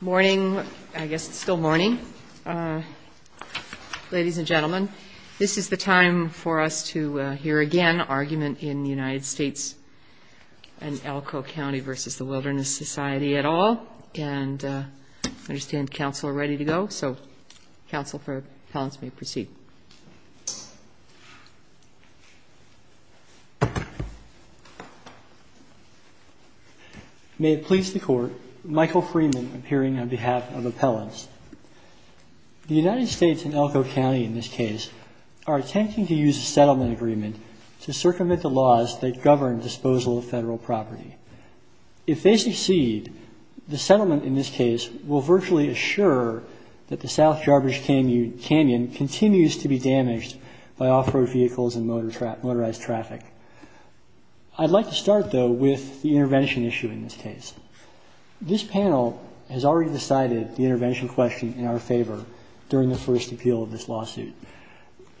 May it please the Court, Michael Freeman, appearing on behalf of the U.S. Department of Appellants. The United States and Elko County, in this case, are attempting to use a settlement agreement to circumvent the laws that govern disposal of federal property. If they succeed, the settlement, in this case, will virtually assure that the South Jarbidge Canyon continues to be damaged by off-road vehicles and motorized traffic. I'd like to start, though, with the intervention issue in this case. This panel has already decided the intervention question in our favor during the first appeal of this lawsuit.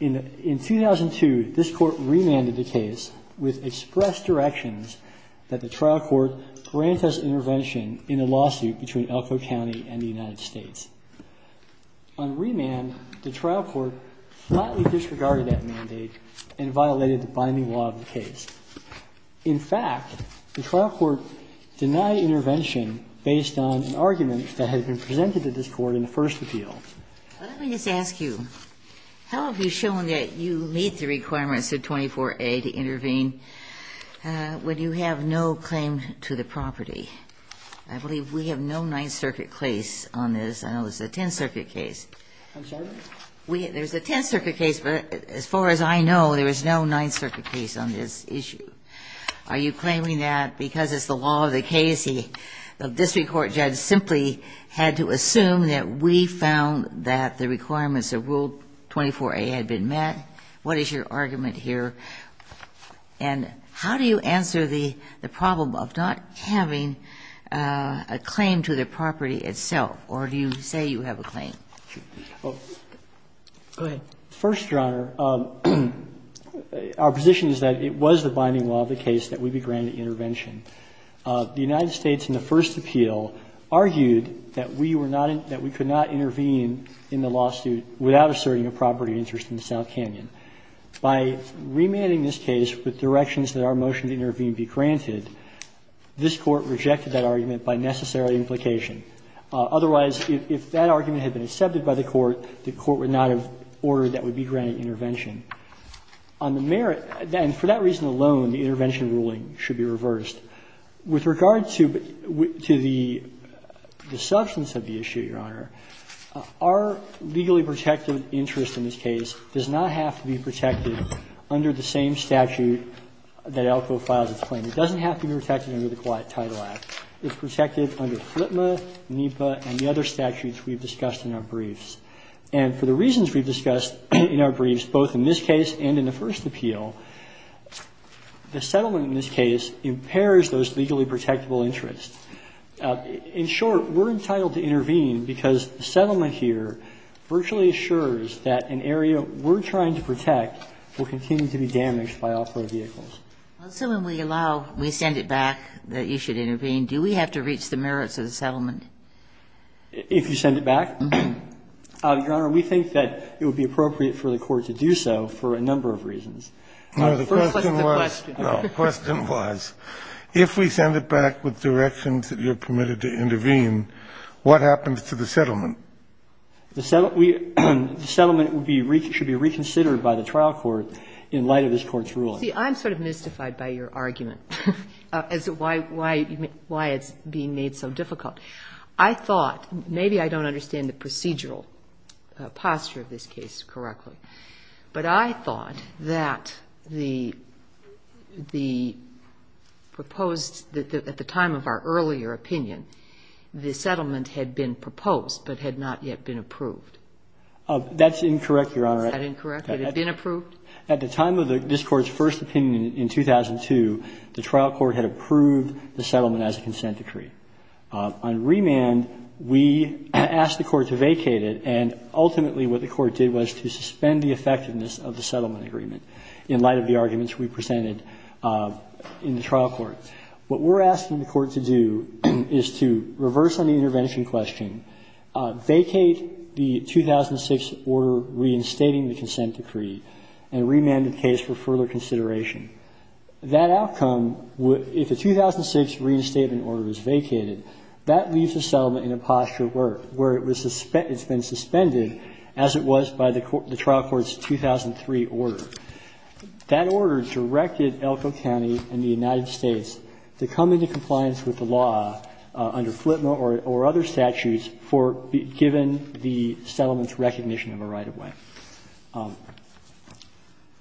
In 2002, this Court remanded the case with express directions that the trial court grant us intervention in a lawsuit between Elko County and the United States. On remand, the trial court flatly The trial court denied intervention based on an argument that had been presented to this Court in the first appeal. Let me just ask you, how have you shown that you meet the requirements of 24a to intervene when you have no claim to the property? I believe we have no Ninth Circuit case on this. I know there's a Tenth Circuit case. I'm sorry? There's a Tenth Circuit case, but as far as I know, there is no Ninth Circuit case on this issue. Are you claiming that because it's the law of the case, the district court judge simply had to assume that we found that the requirements of Rule 24a had been met? What is your argument here? And how do you answer the problem of not having a claim to the property itself, or do you say you have a claim? Go ahead. First, Your Honor, our position is that it was the binding law of the case that we be granted intervention. The United States, in the first appeal, argued that we were not in – that we could not intervene in the lawsuit without asserting a property interest in the South Canyon. By remanding this case with directions that our motion to intervene be granted, this Court rejected that argument by necessary implication. Otherwise, if that argument had been accepted by the Court, the Court would not have ordered that we be granted intervention. On the merit – and for that reason alone, the intervention ruling should be reversed. With regard to the substance of the issue, Your Honor, our legally protected interest in this case does not have to be protected under the same statute that ALCO files its claim. It doesn't have to be protected under the Quiet Title Act. It's not protected under the same statute that ALCO, NEPA, and the other statutes we've discussed in our briefs. And for the reasons we've discussed in our briefs, both in this case and in the first appeal, the settlement in this case impairs those legally protectable interests. In short, we're entitled to intervene because the settlement here virtually assures that an area we're trying to protect will continue to be damaged by off-road vehicles. Ginsburg. Well, so when we allow, we send it back that you should intervene, do we have to reach the merits of the settlement? If you send it back? Your Honor, we think that it would be appropriate for the Court to do so for a number of reasons. The first was the question. No, the question was, if we send it back with directions that you're permitted to intervene, what happens to the settlement? The settlement should be reconsidered by the trial court in light of this Court's ruling. See, I'm sort of mystified by your argument as to why it's being made so difficult. I thought, maybe I don't understand the procedural posture of this case correctly, but I thought that the proposed, at the time of our earlier opinion, the settlement had been proposed but had not yet been approved. That's incorrect, Your Honor. Is that incorrect? It had been approved? At the time of this Court's first opinion in 2002, the trial court had approved the settlement as a consent decree. On remand, we asked the Court to vacate it, and ultimately what the Court did was to suspend the effectiveness of the settlement agreement in light of the arguments we presented in the trial court. What we're asking the Court to do is to reverse on the intervention question, vacate the 2006 order reinstating the consent decree, and remand the case for further consideration. That outcome, if the 2006 reinstatement order is vacated, that leaves the settlement in a posture where it was suspended, it's been suspended as it was by the trial court's 2003 order. That order directed Elko County and the United States to come into compliance with the law under FLTMA or other statutes for the – given the settlement's recognition of a right-of-way.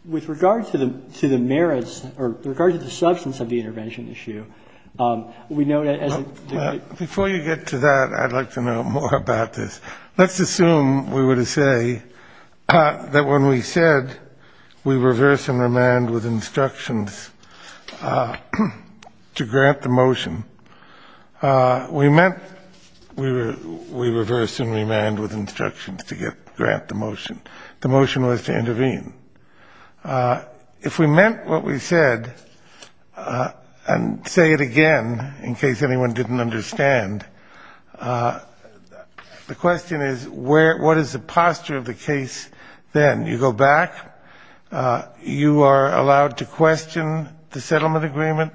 With regard to the merits or with regard to the substance of the intervention issue, we know that as a degree of the court's discretionary authority, it's not a matter of the court's discretionary authority, it's a matter of the court's discretionary authority. We meant – we reversed and remanded with instructions to grant the motion. The motion was to intervene. If we meant what we said, and say it again in case anyone didn't understand, the question is what is the posture of the case then? You go back, you are allowed to question the settlement agreement.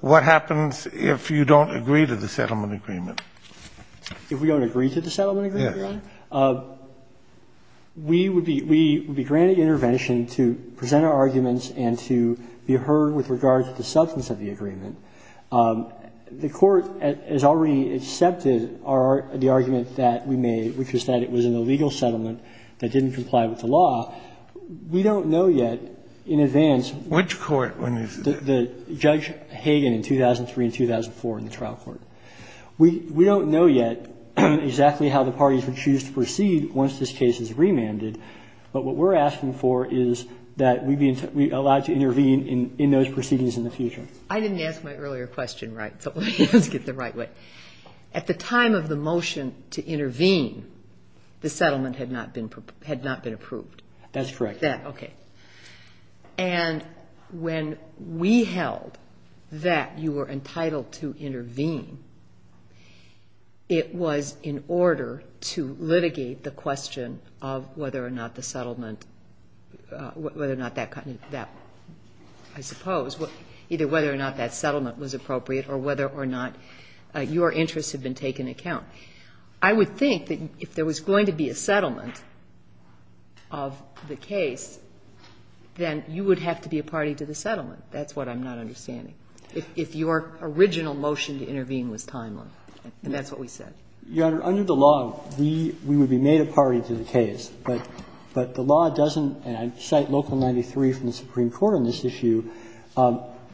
What happens if you don't agree to the settlement agreement? If we don't agree to the settlement agreement? Yes. We would be – we would be granted intervention to present our arguments and to be heard with regard to the substance of the agreement. The court has already accepted our – the argument that we made, which is that it was an illegal settlement that didn't comply with the law. And so we are asking that Judge Hagan, in 2003 and 2004 in the trial court – we don't know yet exactly how the parties would choose to proceed once this case is remanded, but what we are asking for is that we be allowed to intervene in those proceedings in the future. I didn't ask my earlier question right, so let me ask it the right way. At the time of the motion to intervene, the settlement had not been approved. That's correct. Okay. And when we held that you were entitled to intervene, it was in order to litigate the question of whether or not the settlement – whether or not that – I suppose – either whether or not that settlement was appropriate or whether or not your interests had been taken into account. I would think that if there was going to be a settlement of the case, then you would have to be a party to the settlement. That's what I'm not understanding. If your original motion to intervene was timely, and that's what we said. Your Honor, under the law, we would be made a party to the case. But the law doesn't – and I cite Local 93 from the Supreme Court on this issue –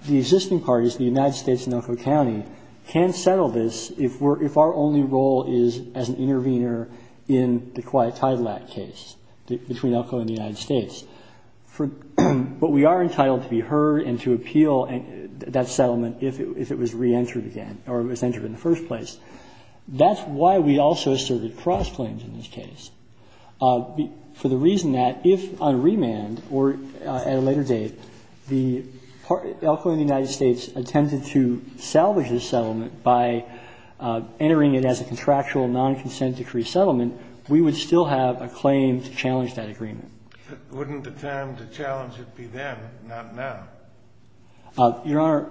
the existing parties, the United States and Elko County, can settle this if we're only role is as an intervener in the Quiet Tidelap case between Elko and the United States. For – but we are entitled to be heard and to appeal that settlement if it was re-entered again or it was entered in the first place. That's why we also asserted cross-claims in this case, for the reason that if on remand or at a later date, the Elko and the United States attempted to salvage this settlement by entering it as a contractual non-consent decree settlement, we would still have a claim to challenge that agreement. Kennedy, wouldn't the time to challenge it be then, not now? Your Honor,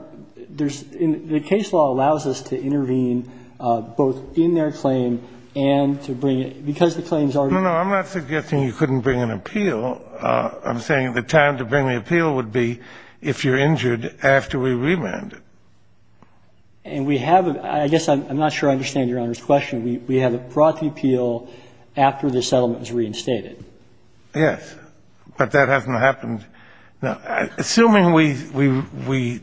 there's – the case law allows us to intervene both in their claim and to bring it – because the claims already exist. No, no, I'm not suggesting you couldn't bring an appeal. I'm saying the time to bring the appeal would be if you're injured after we remand it. And we have a – I guess I'm not sure I understand Your Honor's question. We have brought the appeal after the settlement was reinstated. Yes. But that hasn't happened – now, assuming we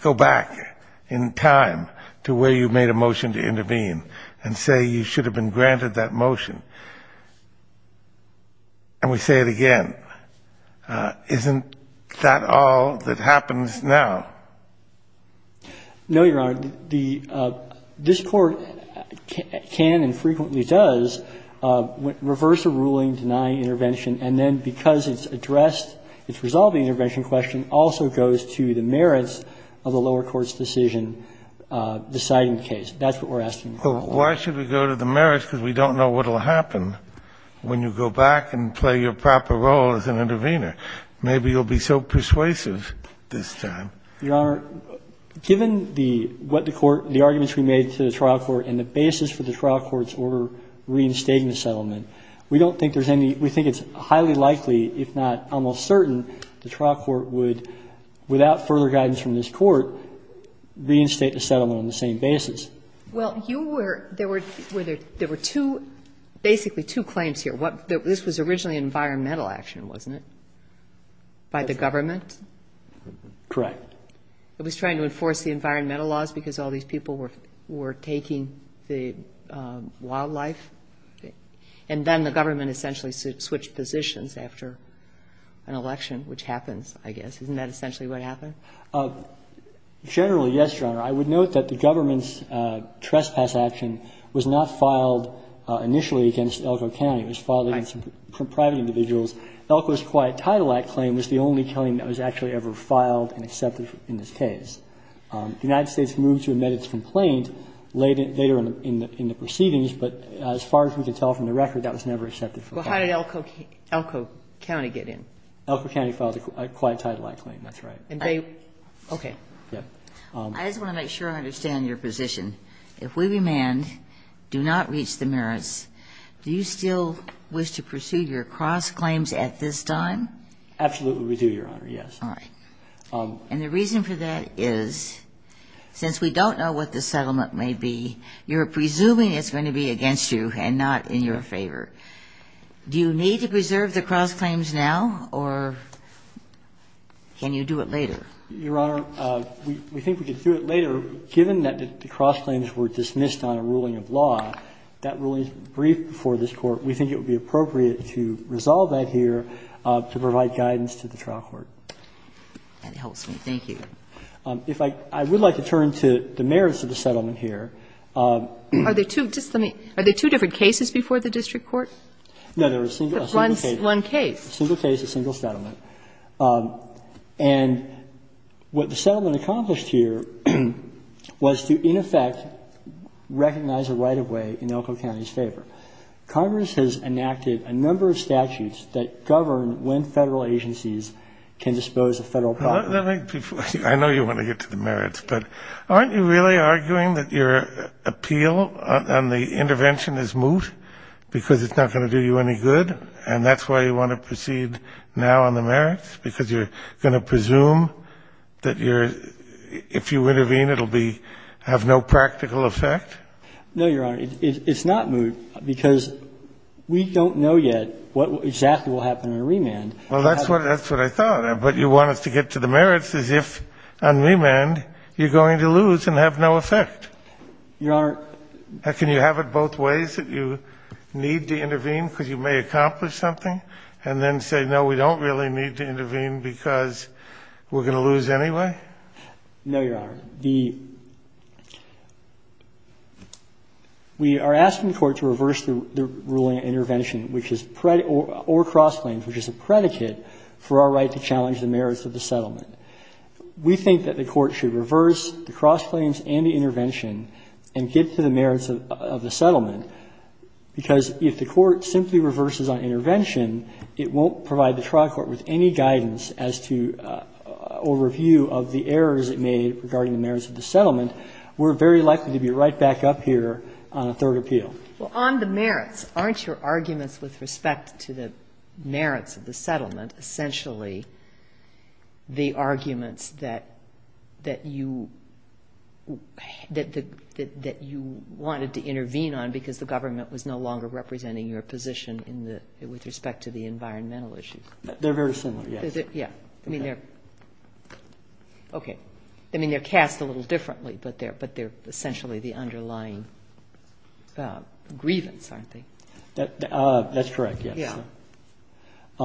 go back in time to where you made a motion to intervene and say you should have been granted that motion, and we say it again, isn't that all that happens now? No, Your Honor. The – this Court can and frequently does reverse a ruling, deny intervention, and then because it's addressed, it's resolved the intervention question, also goes to the merits of the lower court's decision deciding the case. That's what we're asking. But why should we go to the merits, because we don't know what will happen when you go back and play your proper role as an intervener? Maybe you'll be so persuasive this time. Your Honor, given the – what the court – the arguments we made to the trial court and the basis for the trial court's order reinstating the settlement, we don't think there's any – we think it's highly likely, if not almost certain, the trial court would, without further guidance from this court, reinstate the settlement on the same basis. Well, you were – there were two – basically two claims here. What – this was originally an environmental action, wasn't it, by the government? Correct. It was trying to enforce the environmental laws because all these people were taking the wildlife, and then the government essentially switched positions after an election, which happens, I guess. Isn't that essentially what happened? Generally, yes, Your Honor. I would note that the government's trespass action was not filed initially against Elko County. It was filed against private individuals. Elko's Quiet Title Act claim was the only claim that was actually ever filed and accepted in this case. The United States moved to admit its complaint later in the proceedings, but as far as we can tell from the record, that was never accepted for a claim. Well, how did Elko County get in? Elko County filed a Quiet Title Act claim, that's right. And they – okay. Yes. I just want to make sure I understand your position. If we demand do not reach the merits, do you still wish to pursue your cross-claims at this time? Absolutely we do, Your Honor, yes. All right. And the reason for that is, since we don't know what the settlement may be, you're presuming it's going to be against you and not in your favor. Do you need to preserve the cross-claims now, or can you do it later? Your Honor, we think we could do it later, given that the cross-claims were dismissed on a ruling of law. That ruling is brief before this Court. We think it would be appropriate to resolve that here to provide guidance to the trial court. That helps me. Thank you. If I – I would like to turn to the merits of the settlement here. Are there two – just let me – are there two different cases before the district court? No, there was a single case. One case. A single case, a single settlement. And what the settlement accomplished here was to, in effect, recognize a right-of-way in Elko County's favor. Congress has enacted a number of statutes that govern when Federal agencies can dispose of Federal property. Let me – I know you want to get to the merits, but aren't you really arguing that your appeal on the intervention is moot because it's not going to do you any good, and that's why you want to proceed now on the merits, because you're going to presume that your – if you intervene, it will be – have no practical effect? No, Your Honor. It's not moot because we don't know yet what exactly will happen on remand. Well, that's what – that's what I thought. But you want us to get to the merits as if on remand you're going to lose and have no effect. Your Honor – Can you have it both ways, that you need to intervene because you may accomplish something, and then say, no, we don't really need to intervene because we're going to lose anyway? No, Your Honor. The – we are asking the Court to reverse the ruling on intervention, which is – or cross-claims, which is a predicate for our right to challenge the merits of the settlement. We think that the Court should reverse the cross-claims and the intervention and get to the merits of the settlement, because if the Court simply reverses on intervention, it won't provide the trial court with any guidance as to – or review of the errors it made regarding the merits of the settlement. We're very likely to be right back up here on a third appeal. Well, on the merits, aren't your arguments with respect to the merits of the settlement essentially the arguments that you – that you wanted to intervene on because the government was no longer representing your position in the – with respect to the environmental issues? They're very similar, yes. Yeah. I mean, they're – okay. I mean, they're cast a little differently, but they're essentially the underlying grievance, aren't they? That's correct, yes. Yeah.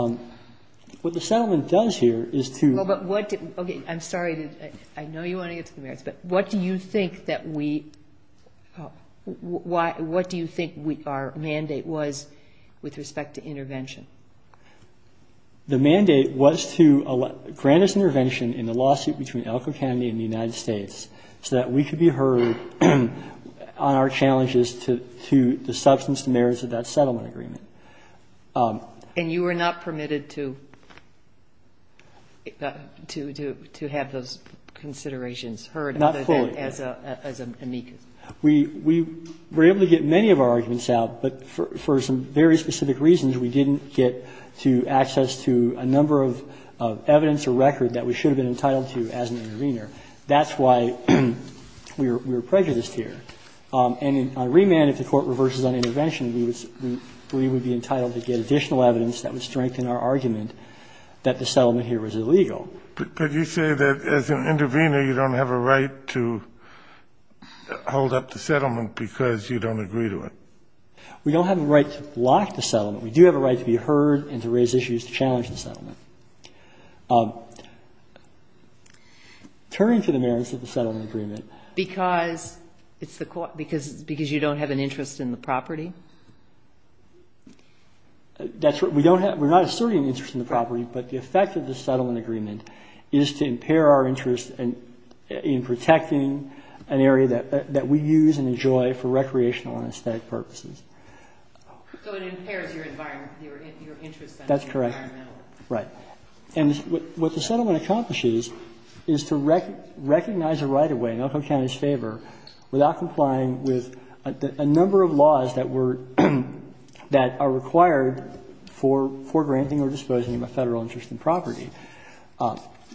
What the settlement does here is to – Well, but what – okay. I'm sorry to – I know you want to get to the merits, but what do you think that we – what do you think our mandate was with respect to intervention? The mandate was to grant us intervention in the lawsuit between Elko County and the United States so that we could be heard on our challenges to the substance and merits of that settlement agreement. And you were not permitted to – to have those considerations heard other than as an amicus? Not fully. We were able to get many of our arguments out, but for some very specific reasons we didn't get to access to a number of evidence or record that we should have been entitled to as an intervener. That's why we were prejudiced here. And on remand, if the Court reverses on intervention, we would be entitled to get additional evidence that would strengthen our argument that the settlement here was illegal. But you say that as an intervener you don't have a right to hold up the settlement because you don't agree to it. We don't have a right to block the settlement. We do have a right to be heard and to raise issues to challenge the settlement. Turning to the merits of the settlement agreement. Because it's the – because you don't have an interest in the property? That's what – we don't have – we're not asserting an interest in the property, but the effect of the settlement agreement is to impair our interest in protecting an area that we use and enjoy for recreational and aesthetic purposes. So it impairs your environment – your interest in the environment? That's correct. Right. And what the settlement accomplishes is to recognize a right of way in Elko County's favor without complying with a number of laws that were – that are required for granting or disposing of a Federal interest in property.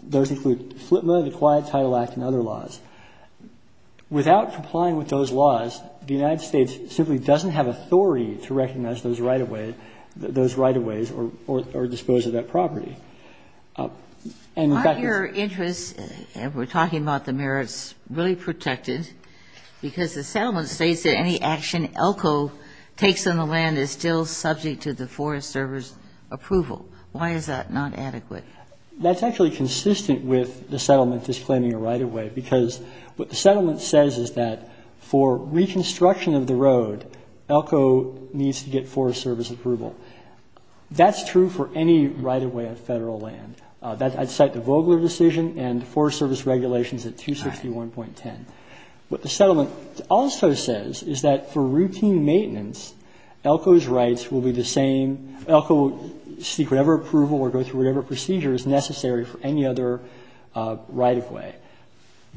Those include FLIPMA, the Quiet Title Act, and other laws. Without complying with those laws, the United States simply doesn't have authority to recognize those right of ways or dispose of that property. And in fact, it's – Aren't your interests, and we're talking about the merits, really protected? Because the settlement states that any action Elko takes on the land is still subject to the Forest Service approval. Why is that not adequate? That's actually consistent with the settlement disclaiming a right of way, because what the settlement says is that for reconstruction of the road, Elko needs to get Forest Service approval. That's true for any right of way on Federal land. I'd cite the Vogler decision and the Forest Service regulations at 261.10. What the settlement also says is that for routine maintenance, Elko's rights will be the same. Elko will seek whatever approval or go through whatever procedure is necessary for any other right of way.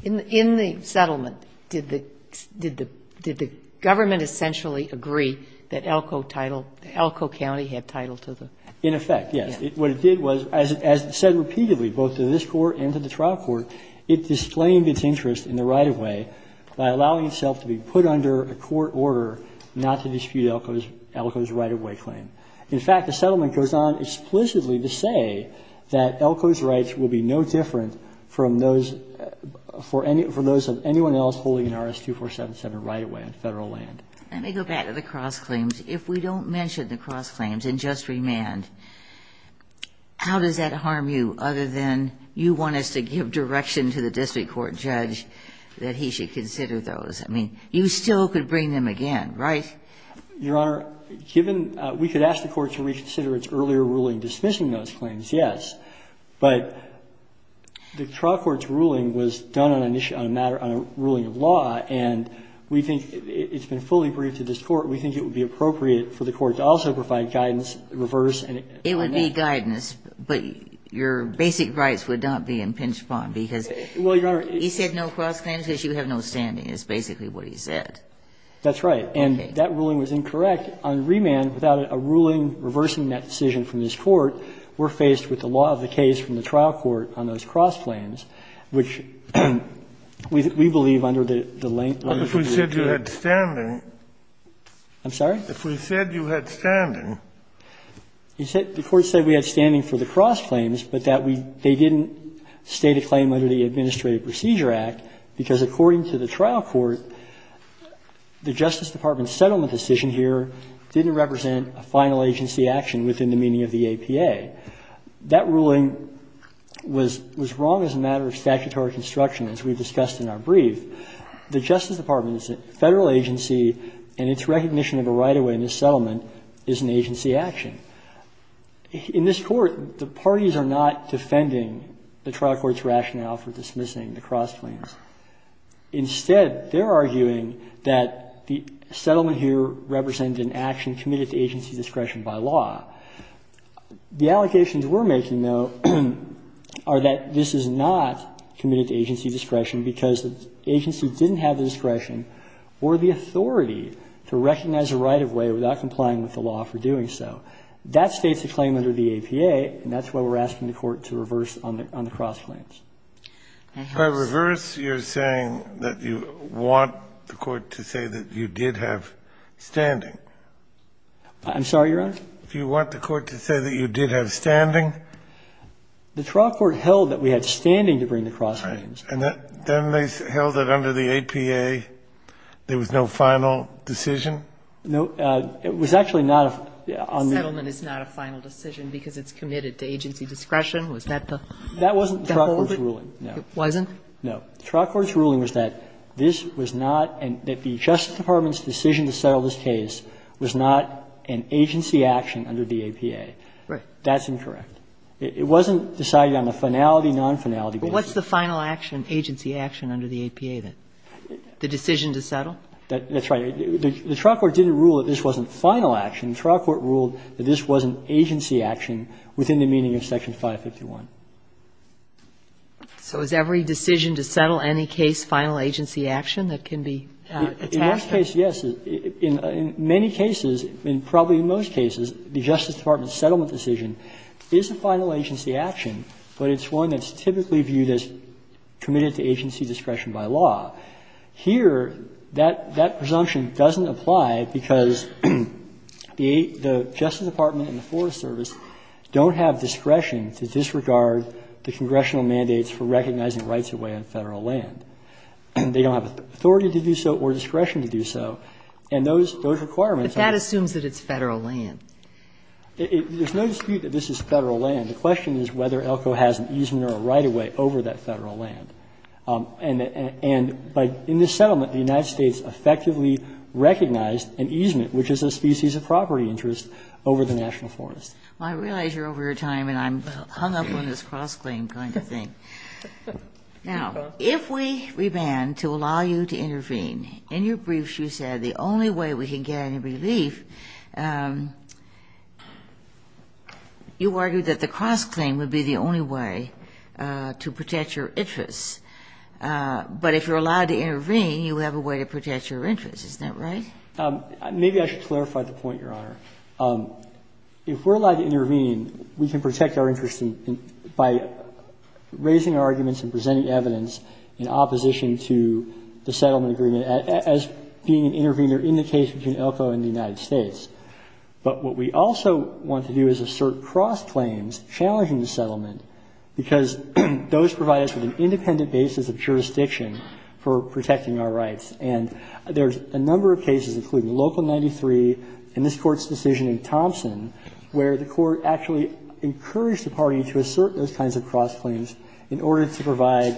In the settlement, did the Government essentially agree that Elko title, Elko County had title to the road? In effect, yes. What it did was, as it said repeatedly, both to this Court and to the trial court, it disclaimed its interest in the right of way by allowing itself to be put under a court order not to dispute Elko's right of way claim. In fact, the settlement goes on explicitly to say that Elko's rights will be no different from those of anyone else holding an RS-2477 right of way on Federal land. Let me go back to the cross claims. If we don't mention the cross claims and just remand, how does that harm you other than you want us to give direction to the district court judge that he should consider those? I mean, you still could bring them again, right? Your Honor, given we could ask the Court to reconsider its earlier ruling dismissing those claims, yes. But the trial court's ruling was done on a matter, on a ruling of law, and we think it's been fully briefed to this Court. We think it would be appropriate for the Court to also provide guidance, reverse and amendment. It would be guidance, but your basic rights would not be impinged upon because he said no cross claims because you have no standing. That's basically what he said. That's right. And that ruling was incorrect. On remand, without a ruling reversing that decision from this Court, we're faced with the law of the case from the trial court on those cross claims, which we believe under the language of the district court judge. I'm sorry? If we said you had standing. The Court said we had standing for the cross claims, but that they didn't state a claim under the Administrative Procedure Act because, according to the trial court, the Justice Department settlement decision here didn't represent a final agency action within the meaning of the APA. That ruling was wrong as a matter of statutory construction, as we've discussed in our brief. The Justice Department's Federal agency and its recognition of a right of way in this settlement is an agency action. In this Court, the parties are not defending the trial court's rationale for dismissing the cross claims. Instead, they're arguing that the settlement here represented an action committed to agency discretion by law. The allocations we're making, though, are that this is not committed to agency discretion because the agency didn't have the discretion or the authority to recognize a right of way without complying with the law for doing so. That states a claim under the APA, and that's why we're asking the Court to reverse on the cross claims. If I reverse, you're saying that you want the Court to say that you did have standing. I'm sorry, Your Honor? Do you want the Court to say that you did have standing? The trial court held that we had standing to bring the cross claims. And then they held that under the APA there was no final decision? No. It was actually not a final decision. Settlement is not a final decision because it's committed to agency discretion? Was that the whole thing? That wasn't the trial court's ruling, no. It wasn't? No. The trial court's ruling was that this was not and that the Justice Department's decision to settle this case was not an agency action under the APA. Right. That's incorrect. It wasn't decided on a finality, non-finality basis. But what's the final action, agency action under the APA then? The decision to settle? That's right. The trial court didn't rule that this wasn't final action. The trial court ruled that this was an agency action within the meaning of Section 551. So is every decision to settle any case final agency action that can be attached? In this case, yes. In many cases, and probably in most cases, the Justice Department's settlement decision is a final agency action, but it's one that's typically viewed as committed to agency discretion by law. Here, that presumption doesn't apply because the Justice Department and the Forest Service don't have discretion to disregard the congressional mandates for recognizing rights of way on Federal land. They don't have authority to do so or discretion to do so. And those requirements are not. But that assumes that it's Federal land. There's no dispute that this is Federal land. The question is whether ELCO has an easement or a right-of-way over that Federal land. And in this settlement, the United States effectively recognized an easement, which is a species of property interest, over the national forest. Kagan. Well, I realize you're over your time and I'm hung up on this cross-claim kind of thing. Now, if we reband to allow you to intervene, in your briefs you said the only way we can get any relief, you argued that the cross-claim would be the only way to protect your interests. But if you're allowed to intervene, you have a way to protect your interests. Isn't that right? Maybe I should clarify the point, Your Honor. If we're allowed to intervene, we can protect our interests by raising our arguments and presenting evidence in opposition to the settlement agreement as being an intervener in the case between ELCO and the United States. But what we also want to do is assert cross-claims challenging the settlement agreement, because those provide us with an independent basis of jurisdiction for protecting our rights. And there's a number of cases, including Local 93 and this Court's decision in Thompson, where the Court actually encouraged the party to assert those kinds of cross-claims in order to provide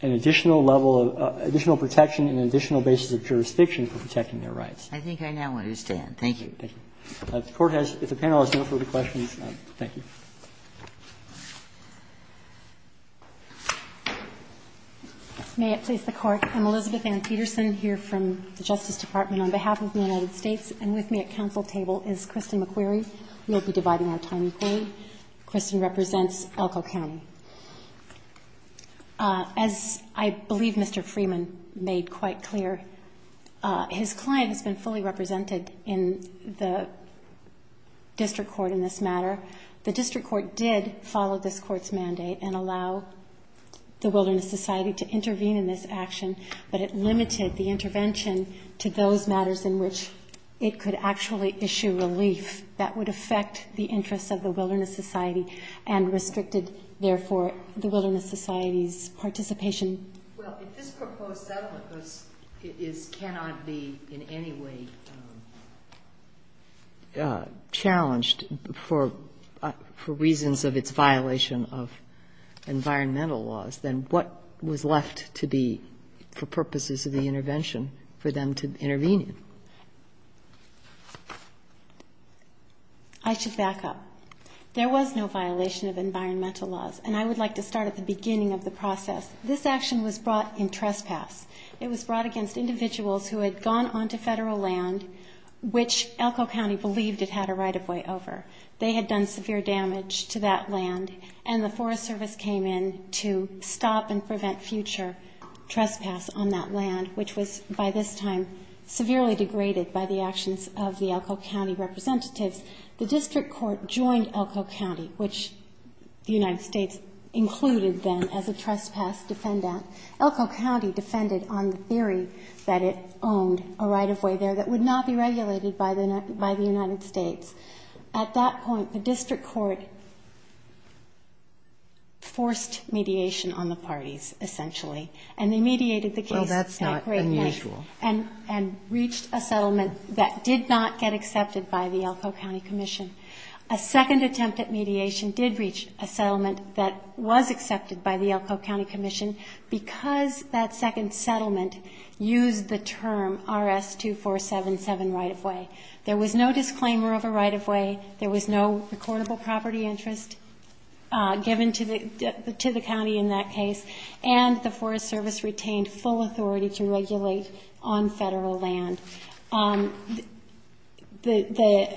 an additional level of additional protection and an additional basis of jurisdiction for protecting their rights. I think I now understand. Thank you. Thank you. If the panel has no further questions, thank you. May it please the Court. I'm Elizabeth Ann Peterson here from the Justice Department. On behalf of the United States and with me at counsel table is Kristen McQuarrie. We will be dividing our time. Kristen represents ELCO County. As I believe Mr. Freeman made quite clear, his client has been fully represented in the district court in this matter. The district court did follow this Court's mandate and allow the Wilderness Society to intervene in this action, but it limited the intervention to those matters in which it could actually issue relief that would affect the interests of the Wilderness Society and restricted, therefore, the Wilderness Society's participation. Well, if this proposed settlement cannot be in any way challenged for reasons of its violation of environmental laws, then what was left to be, for purposes of the intervention, for them to intervene in? I should back up. There was no violation of environmental laws. And I would like to start at the beginning of the process. This action was brought in trespass. It was brought against individuals who had gone onto federal land, which ELCO County believed it had a right-of-way over. They had done severe damage to that land, and the Forest Service came in to stop and prevent future trespass on that land, which was by this time severely degraded by the actions of the ELCO County representatives. The district court joined ELCO County, which the United States included then as a trespass defendant. ELCO County defended on the theory that it owned a right-of-way there that would not be regulated by the United States. At that point, the district court forced mediation on the parties, essentially, and they mediated the case at great length. Well, that's not unusual. And reached a settlement that did not get accepted by the ELCO County Commission. A second attempt at mediation did reach a settlement that was accepted by the ELCO County Commission because that second settlement used the term RS-2477 right-of-way. There was no disclaimer of a right-of-way. There was no recordable property interest given to the county in that case, and the Forest Service retained full authority to regulate on federal land. The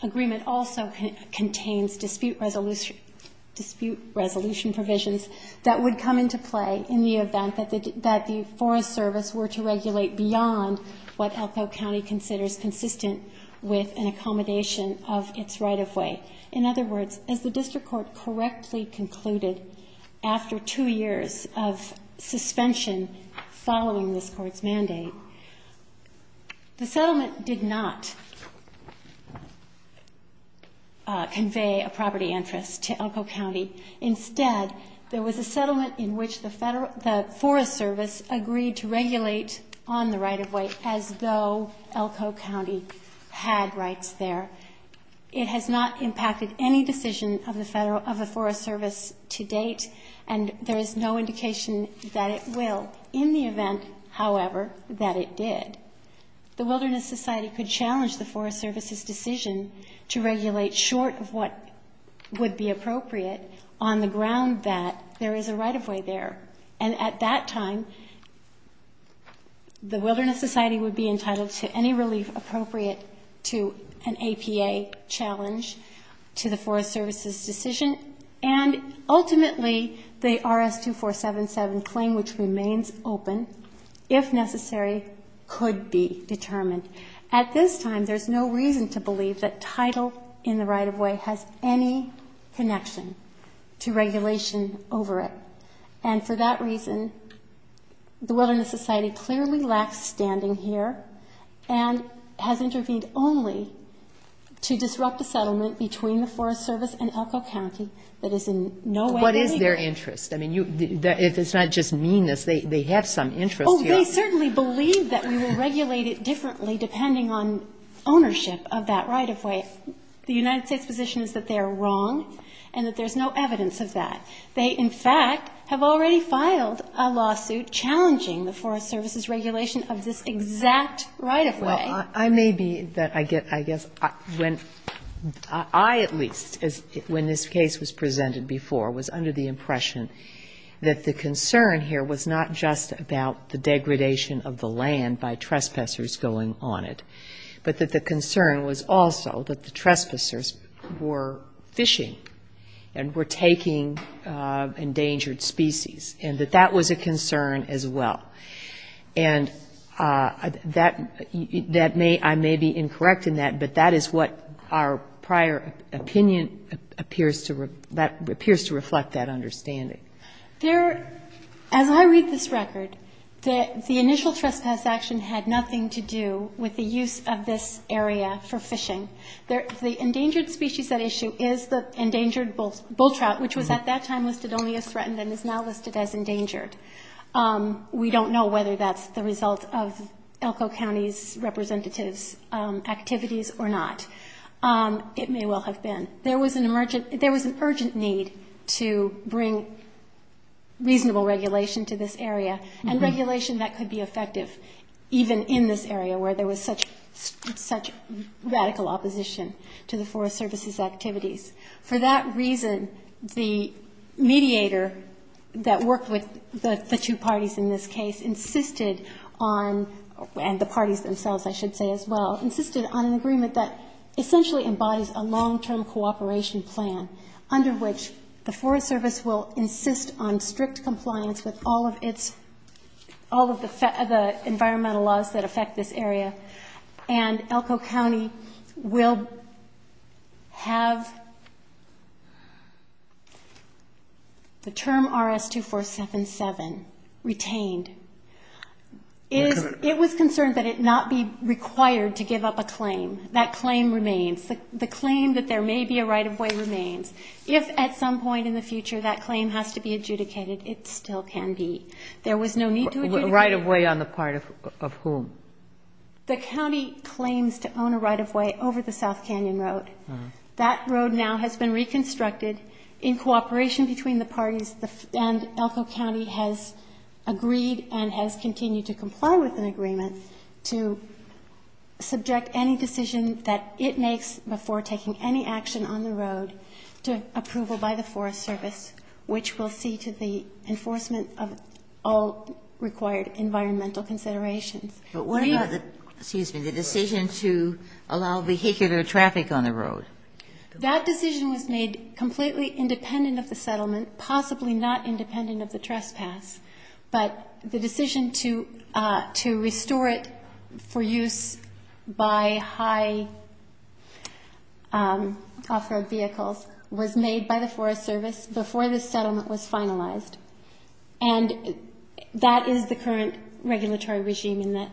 agreement also contains dispute resolution provisions that would come into play in the event that the Forest Service were to regulate beyond what ELCO County considers consistent with an accommodation of its right-of-way. In other words, as the district court correctly concluded after two years of suspension following this Court's mandate, the settlement did not convey a property interest to ELCO County. Instead, there was a settlement in which the Federal the Forest Service agreed to regulate on the right-of-way as though ELCO County had rights there. It has not impacted any decision of the Federal of the Forest Service to date, and there is no indication that it will in the event, however, that it did. The Wilderness Society could challenge the Forest Service's decision to regulate short of what would be appropriate on the ground that there is a right-of-way there. And at that time, the Wilderness Society would be entitled to any relief appropriate to an APA challenge to the Forest Service's decision. And ultimately, the RS-2477 claim, which remains open, if necessary, could be determined. At this time, there's no reason to believe that title in the right-of-way has any connection to regulation over it. And for that reason, the Wilderness Society clearly lacks standing here and has intervened only to disrupt the settlement between the Forest Service and ELCO County that is in no way related. Kagan. What is their interest? I mean, if it's not just meanness, they have some interest here. Oh, they certainly believe that we will regulate it differently depending on ownership of that right-of-way. The United States position is that they are wrong and that there's no evidence of that. They, in fact, have already filed a lawsuit challenging the Forest Service's regulation of this exact right-of-way. Well, I may be that I get, I guess, I at least, when this case was presented before, was under the impression that the concern here was not just about the degradation of the land by trespassers going on it, but that the concern was also that the trespassers were fishing and were taking the land of endangered species, and that that was a concern as well. And that may, I may be incorrect in that, but that is what our prior opinion appears to reflect that understanding. As I read this record, the initial trespass action had nothing to do with the use of this area for fishing. The endangered species at issue is the endangered bull trout, which was at that time listed only as threatened and is now listed as endangered. We don't know whether that's the result of Elko County's representatives' activities or not. It may well have been. There was an urgent need to bring reasonable regulation to this area, and regulation that could be effective, even in this area where there was such radical opposition to the Forest Service's activities. For that reason, the mediator that worked with the two parties in this case insisted on, and the parties themselves, I should say as well, insisted on an agreement that essentially embodies a long-term cooperation plan, under which the Forest Service will insist on strict compliance with all of its, all of the environmental laws that affect this area, and Elko County will have the term RS-2477 retained. It was concerned that it not be required to give up a claim. That claim remains. The claim that there may be a right-of-way remains. If at some point in the future that claim has to be adjudicated, it still can be. There was no need to adjudicate. Kagan. A right-of-way on the part of whom? The county claims to own a right-of-way over the South Canyon Road. That road now has been reconstructed. In cooperation between the parties and Elko County has agreed and has continued to comply with an agreement to subject any decision that it makes before taking any action on the road to approval by the Forest Service, which will see to the enforcement of all required environmental considerations. But what about the, excuse me, the decision to allow vehicular traffic on the road? That decision was made completely independent of the settlement, possibly not independent of the trespass. But the decision to restore it for use by high off-road vehicles was made by the Forest Service before the settlement was finalized. And that is the current regulatory regime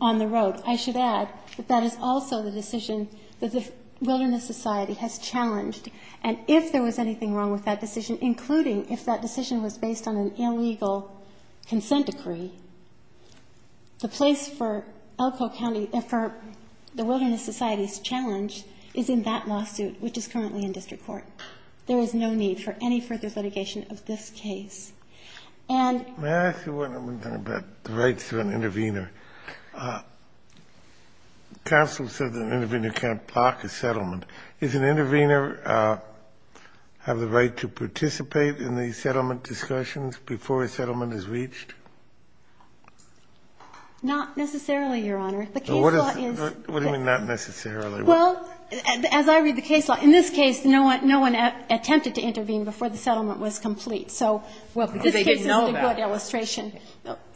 on the road. I should add that that is also the decision that the Wilderness Society has challenged. And if there was anything wrong with that decision, including if that decision was based on an illegal consent decree, the place for Elko County, for the Wilderness Society's challenge is in that lawsuit, which is currently in district court. There is no need for any further litigation of this case. And Can I ask you one other thing about the rights of an intervener? Counsel said that an intervener can't block a settlement. Does an intervener have the right to participate in the settlement discussions before a settlement is reached? Not necessarily, Your Honor. The case law is What do you mean not necessarily? Well, as I read the case law, in this case, no one attempted to intervene before the settlement was complete. So this case is a good illustration.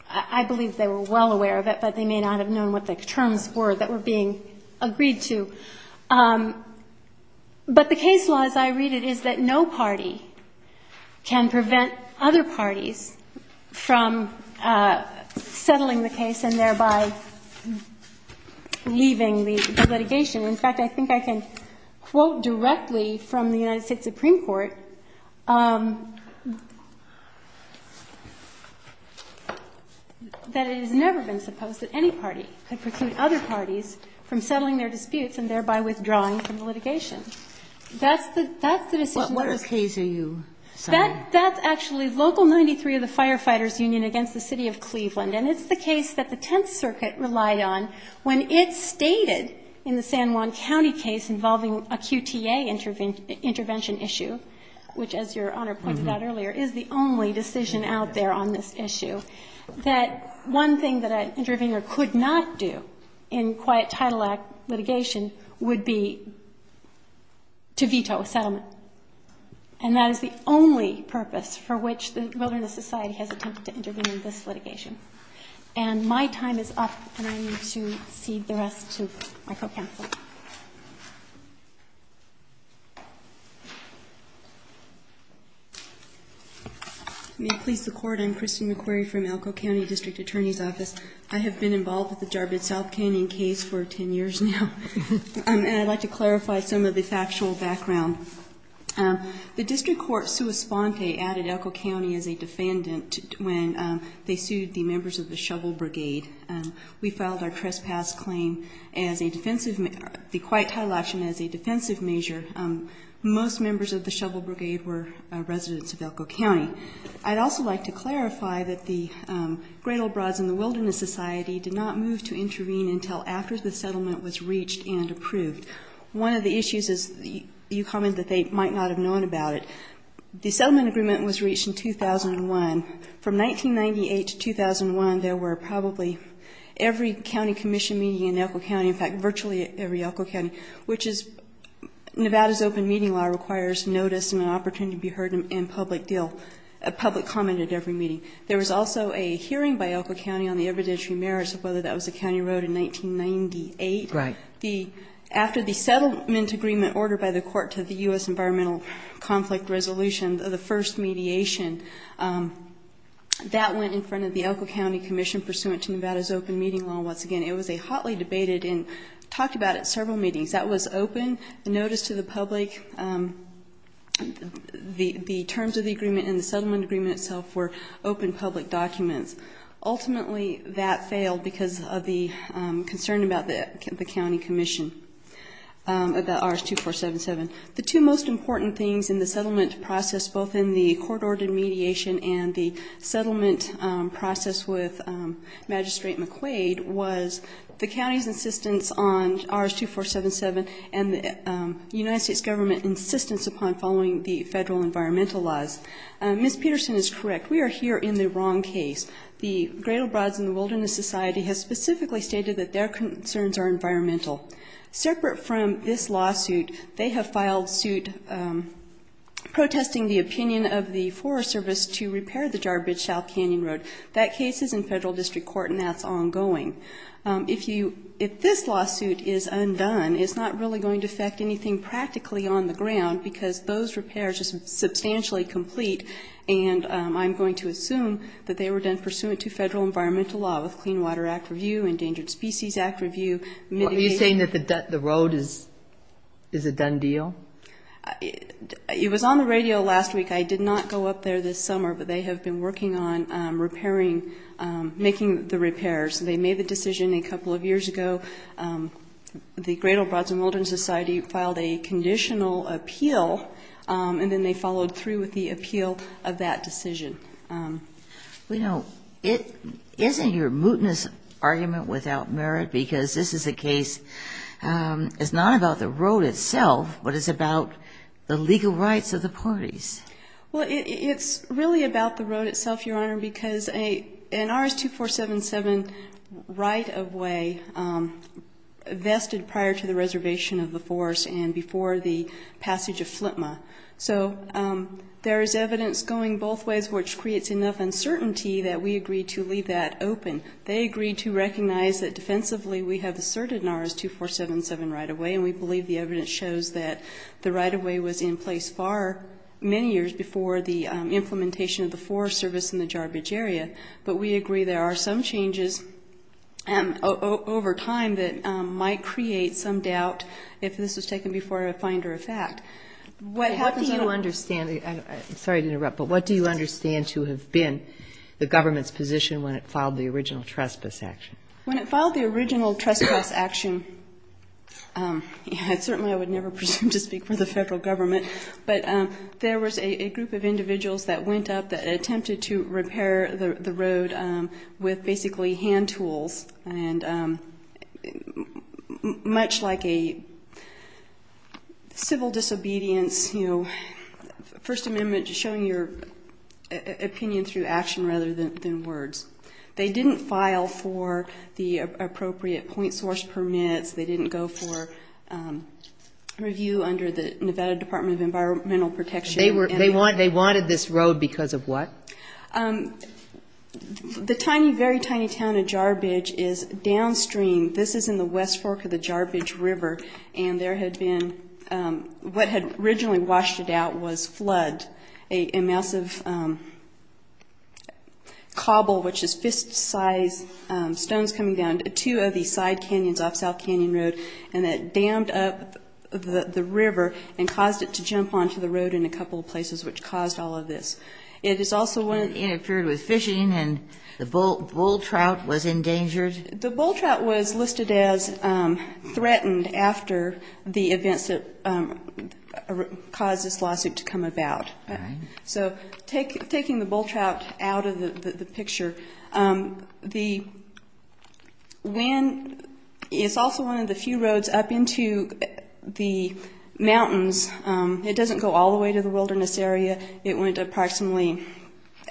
I believe they were well aware of it, but they may not have known what the terms were that were being agreed to. But the case law, as I read it, is that no party can prevent other parties from settling the case and thereby leaving the litigation. In fact, I think I can quote directly from the United States Supreme Court that it has never been supposed that any party could preclude other parties from settling their disputes and thereby withdrawing from the litigation. That's the decision. What case are you citing? That's actually Local 93 of the Firefighters Union against the City of Cleveland. And it's the case that the Tenth Circuit relied on when it stated in the San Juan County case involving a QTA intervention issue, which, as Your Honor pointed out earlier, is the only decision out there on this issue, that one thing that an intervener could not do in Quiet Title Act litigation would be to veto a settlement. And that is the only purpose for which the Wilderness Society has attempted to intervene in this litigation. And my time is up, and I need to cede the rest to my co-panel. May it please the Court. I'm Christine McQuarrie from Elko County District Attorney's Office. I have been involved with the Jarbid South Canyon case for 10 years now, and I'd like to clarify some of the factual background. The district court, sua sponte, added Elko County as a defendant when they sued the members of the Shovel Brigade. We filed our trespass claim as a defensive, the Quiet Title action as a defensive measure. Most members of the Shovel Brigade were residents of Elko County. I'd also like to clarify that the Great Old Broads and the Wilderness Society did not move to intervene until after the settlement was reached and approved. One of the issues is you commented that they might not have known about it. The settlement agreement was reached in 2001. From 1998 to 2001, there were probably every county commission meeting in Elko County, in fact, virtually every Elko County, which is Nevada's open meeting law requires notice and an opportunity to be heard in public deal, a public comment at every meeting. There was also a hearing by Elko County on the evidentiary merits of whether that was a county road in 1998. Right. After the settlement agreement ordered by the court to the U.S. Environmental Conflict Resolution, the first mediation, that went in front of the Elko County Commission pursuant to Nevada's open meeting law once again. It was a hotly debated and talked about at several meetings. That was open notice to the public. The terms of the agreement and the settlement agreement itself were open public documents. Ultimately, that failed because of the concern about the county commission, about RS-2477. The two most important things in the settlement process, both in the court-ordered mediation and the settlement process with Magistrate McQuaid, was the county's insistence on RS-2477 and the United States government's insistence upon following the federal environmental laws. Ms. Peterson is correct. We are here in the wrong case. The Gradle Broads and the Wilderness Society has specifically stated that their concerns are environmental. Separate from this lawsuit, they have filed suit protesting the opinion of the Forest Service to repair the Jarbidge South Canyon Road. That case is in federal district court and that's ongoing. If this lawsuit is undone, it's not really going to affect anything practically on the ground because those repairs are substantially complete. And I'm going to assume that they were done pursuant to federal environmental law with Clean Water Act Review, Endangered Species Act Review. Are you saying that the road is a done deal? It was on the radio last week. I did not go up there this summer, but they have been working on repairing, making the repairs. They made the decision a couple of years ago. The Gradle Broads and Wilderness Society filed a conditional appeal and then they followed through with the appeal of that decision. Well, you know, isn't your mootness argument without merit? Because this is a case, it's not about the road itself, but it's about the legal rights of the parties. Well, it's really about the road itself, Your Honor, because an RS-2477 right-of-way vested prior to the reservation of the forest and before the passage of FLTMA. So there is evidence going both ways, which creates enough uncertainty that we agreed to leave that open. They agreed to recognize that defensively we have asserted an RS-2477 right-of-way, and we believe the evidence shows that the right-of-way was in place far, many years before the implementation of the forest service in the Jarbidge area. But we agree there are some changes over time that might create some doubt if this was taken before a finder of fact. I'm sorry to interrupt, but what do you understand to have been the government's position when it filed the original trespass action? When it filed the original trespass action, certainly I would never presume to speak for the Federal Government, but there was a group of individuals that went up that attempted to repair the road with basically hand tools, and much like a civil disobedience, you know, First Amendment, showing your opinion through action rather than words. They didn't file for the appropriate point source permits. They didn't go for review under the Nevada Department of Environmental Protection. They wanted this road because of what? The tiny, very tiny town of Jarbidge is downstream. This is in the west fork of the Jarbidge River, and there had been what had originally washed it out was flood, a massive cobble, which is fist-size stones coming down to two of the side canyons off South Canyon Road, and it dammed up the river and caused it to jump onto the road in a couple of places, which caused all of this. It appeared it was fishing, and the bull trout was endangered? The bull trout was listed as threatened after the events that caused this lawsuit to come about. So taking the bull trout out of the picture, the wind is also one of the few roads up into the mountains. It doesn't go all the way to the wilderness area. It went approximately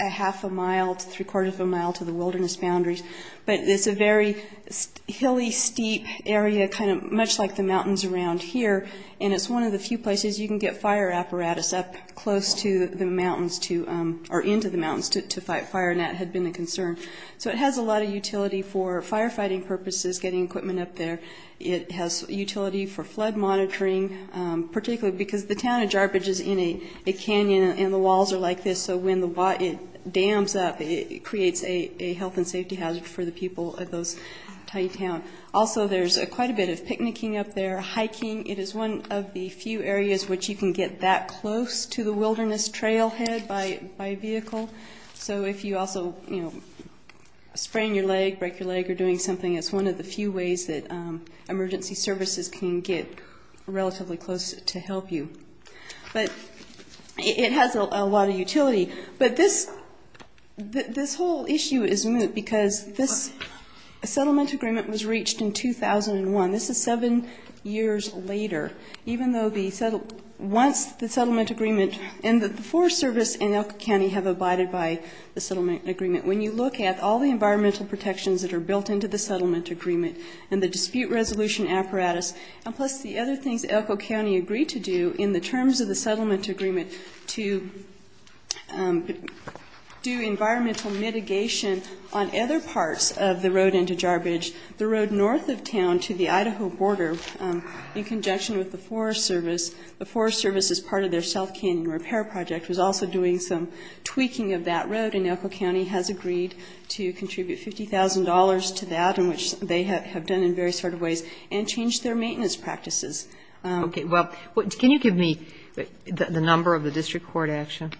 a half a mile to three-quarters of a mile to the wilderness boundaries, but it's a very hilly, steep area, kind of much like the mountains around here, and it's one of the few places you can get fire apparatus up close to the mountains or into the mountains to fight fire, and that had been a concern. So it has a lot of utility for firefighting purposes, getting equipment up there. It has utility for flood monitoring, particularly because the town of Jarbidge is in a canyon, and the walls are like this, so when it dams up, it creates a health and safety hazard for the people of those tiny towns. Also, there's quite a bit of picnicking up there, hiking. It is one of the few areas which you can get that close to the wilderness trailhead by vehicle. So if you also, you know, sprain your leg, break your leg, or doing something, it's one of the few ways that emergency services can get relatively close to help you. But it has a lot of utility. But this whole issue is moot because this settlement agreement was reached in 2001. This is seven years later. Even though once the settlement agreement and the Forest Service and Elko County have abided by the settlement agreement, when you look at all the environmental protections that are built into the settlement agreement and the dispute resolution apparatus, and plus the other things Elko County agreed to do in the terms of the settlement agreement to do environmental mitigation on other parts of the road into Jarbidge, the road north of town to the Idaho border, in conjunction with the Forest Service, the Forest Service, as part of their South Canyon Repair Project, was also doing some tweaking of that road. And Elko County has agreed to contribute $50,000 to that, which they have done in various sort of ways, and changed their maintenance practices. Okay. Well, can you give me the number of the district court action?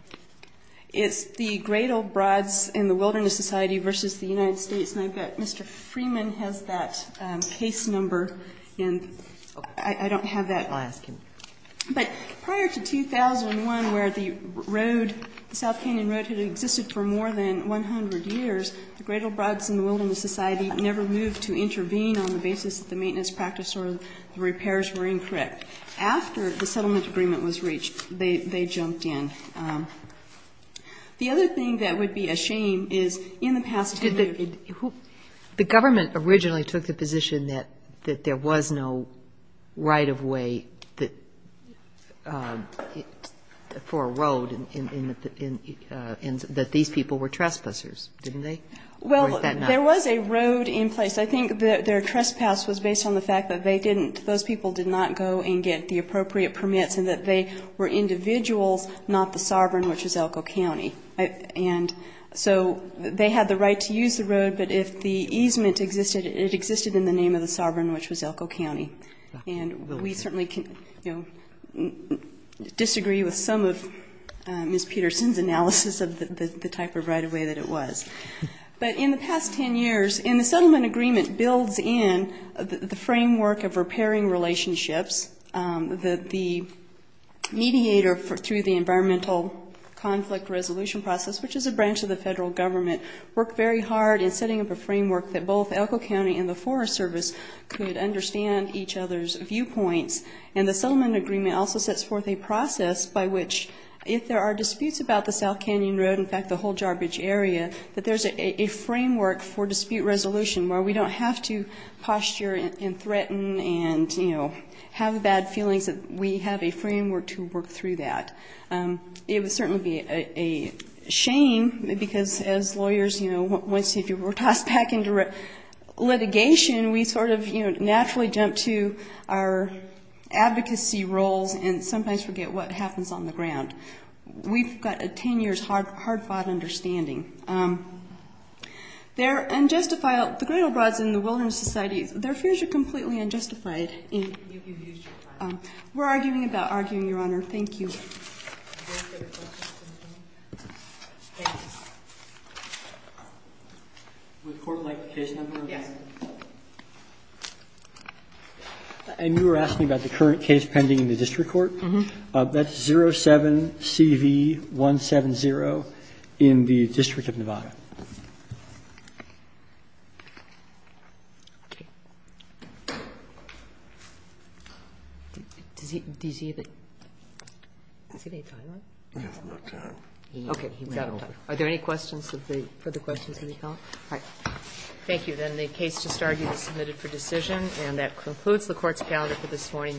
It's the Great Old Broads and the Wilderness Society v. the United States. And I've got Mr. Freeman has that case number. And I don't have that. I'll ask him. But prior to 2001, where the road, the South Canyon Road, had existed for more than 100 years, the Great Old Broads and the Wilderness Society never moved to intervene on the basis that the maintenance practice or the repairs were incorrect. After the settlement agreement was reached, they jumped in. The other thing that would be a shame is in the past 10 years. The government originally took the position that there was no right of way for a road, and that these people were trespassers, didn't they? Well, there was a road in place. I think their trespass was based on the fact that they didn't, those people did not go and get the appropriate permits and that they were individuals, not the sovereign, which was Elko County. And so they had the right to use the road, but if the easement existed, it existed in the name of the sovereign, which was Elko County. And we certainly disagree with some of Ms. Peterson's analysis of the type of right of way that it was. But in the past 10 years, and the settlement agreement builds in the framework of repairing relationships, that the mediator through the environmental conflict resolution process, which is a branch of the federal government, worked very hard in setting up a framework that both Elko County and the Forest Service could understand each other's viewpoints. And the settlement agreement also sets forth a process by which if there are disputes about the South Canyon Road, in fact the whole Jarbidge area, that there's a framework for dispute resolution where we don't have to posture and threaten and, you know, have bad feelings that we have a framework to work through that. It would certainly be a shame because as lawyers, you know, once you were tossed back into litigation, we sort of, you know, naturally jump to our advocacy roles and sometimes forget what happens on the ground. We've got a 10-years hard-fought understanding. There unjustified the griddle rods in the wilderness societies. Their fears are completely unjustified. We're arguing about arguing, Your Honor. Thank you. And you were asking about the current case pending in the district court? Uh-huh. That's 07-CV-170 in the District of Nevada. Okay. Does he have any time left? He has no time. Okay. Is that all right? Are there any questions of the other questions of the panel? All right. Thank you. Then the case just argued is submitted for decision. And that concludes the Court's calendar for this morning. The Court stands adjourned.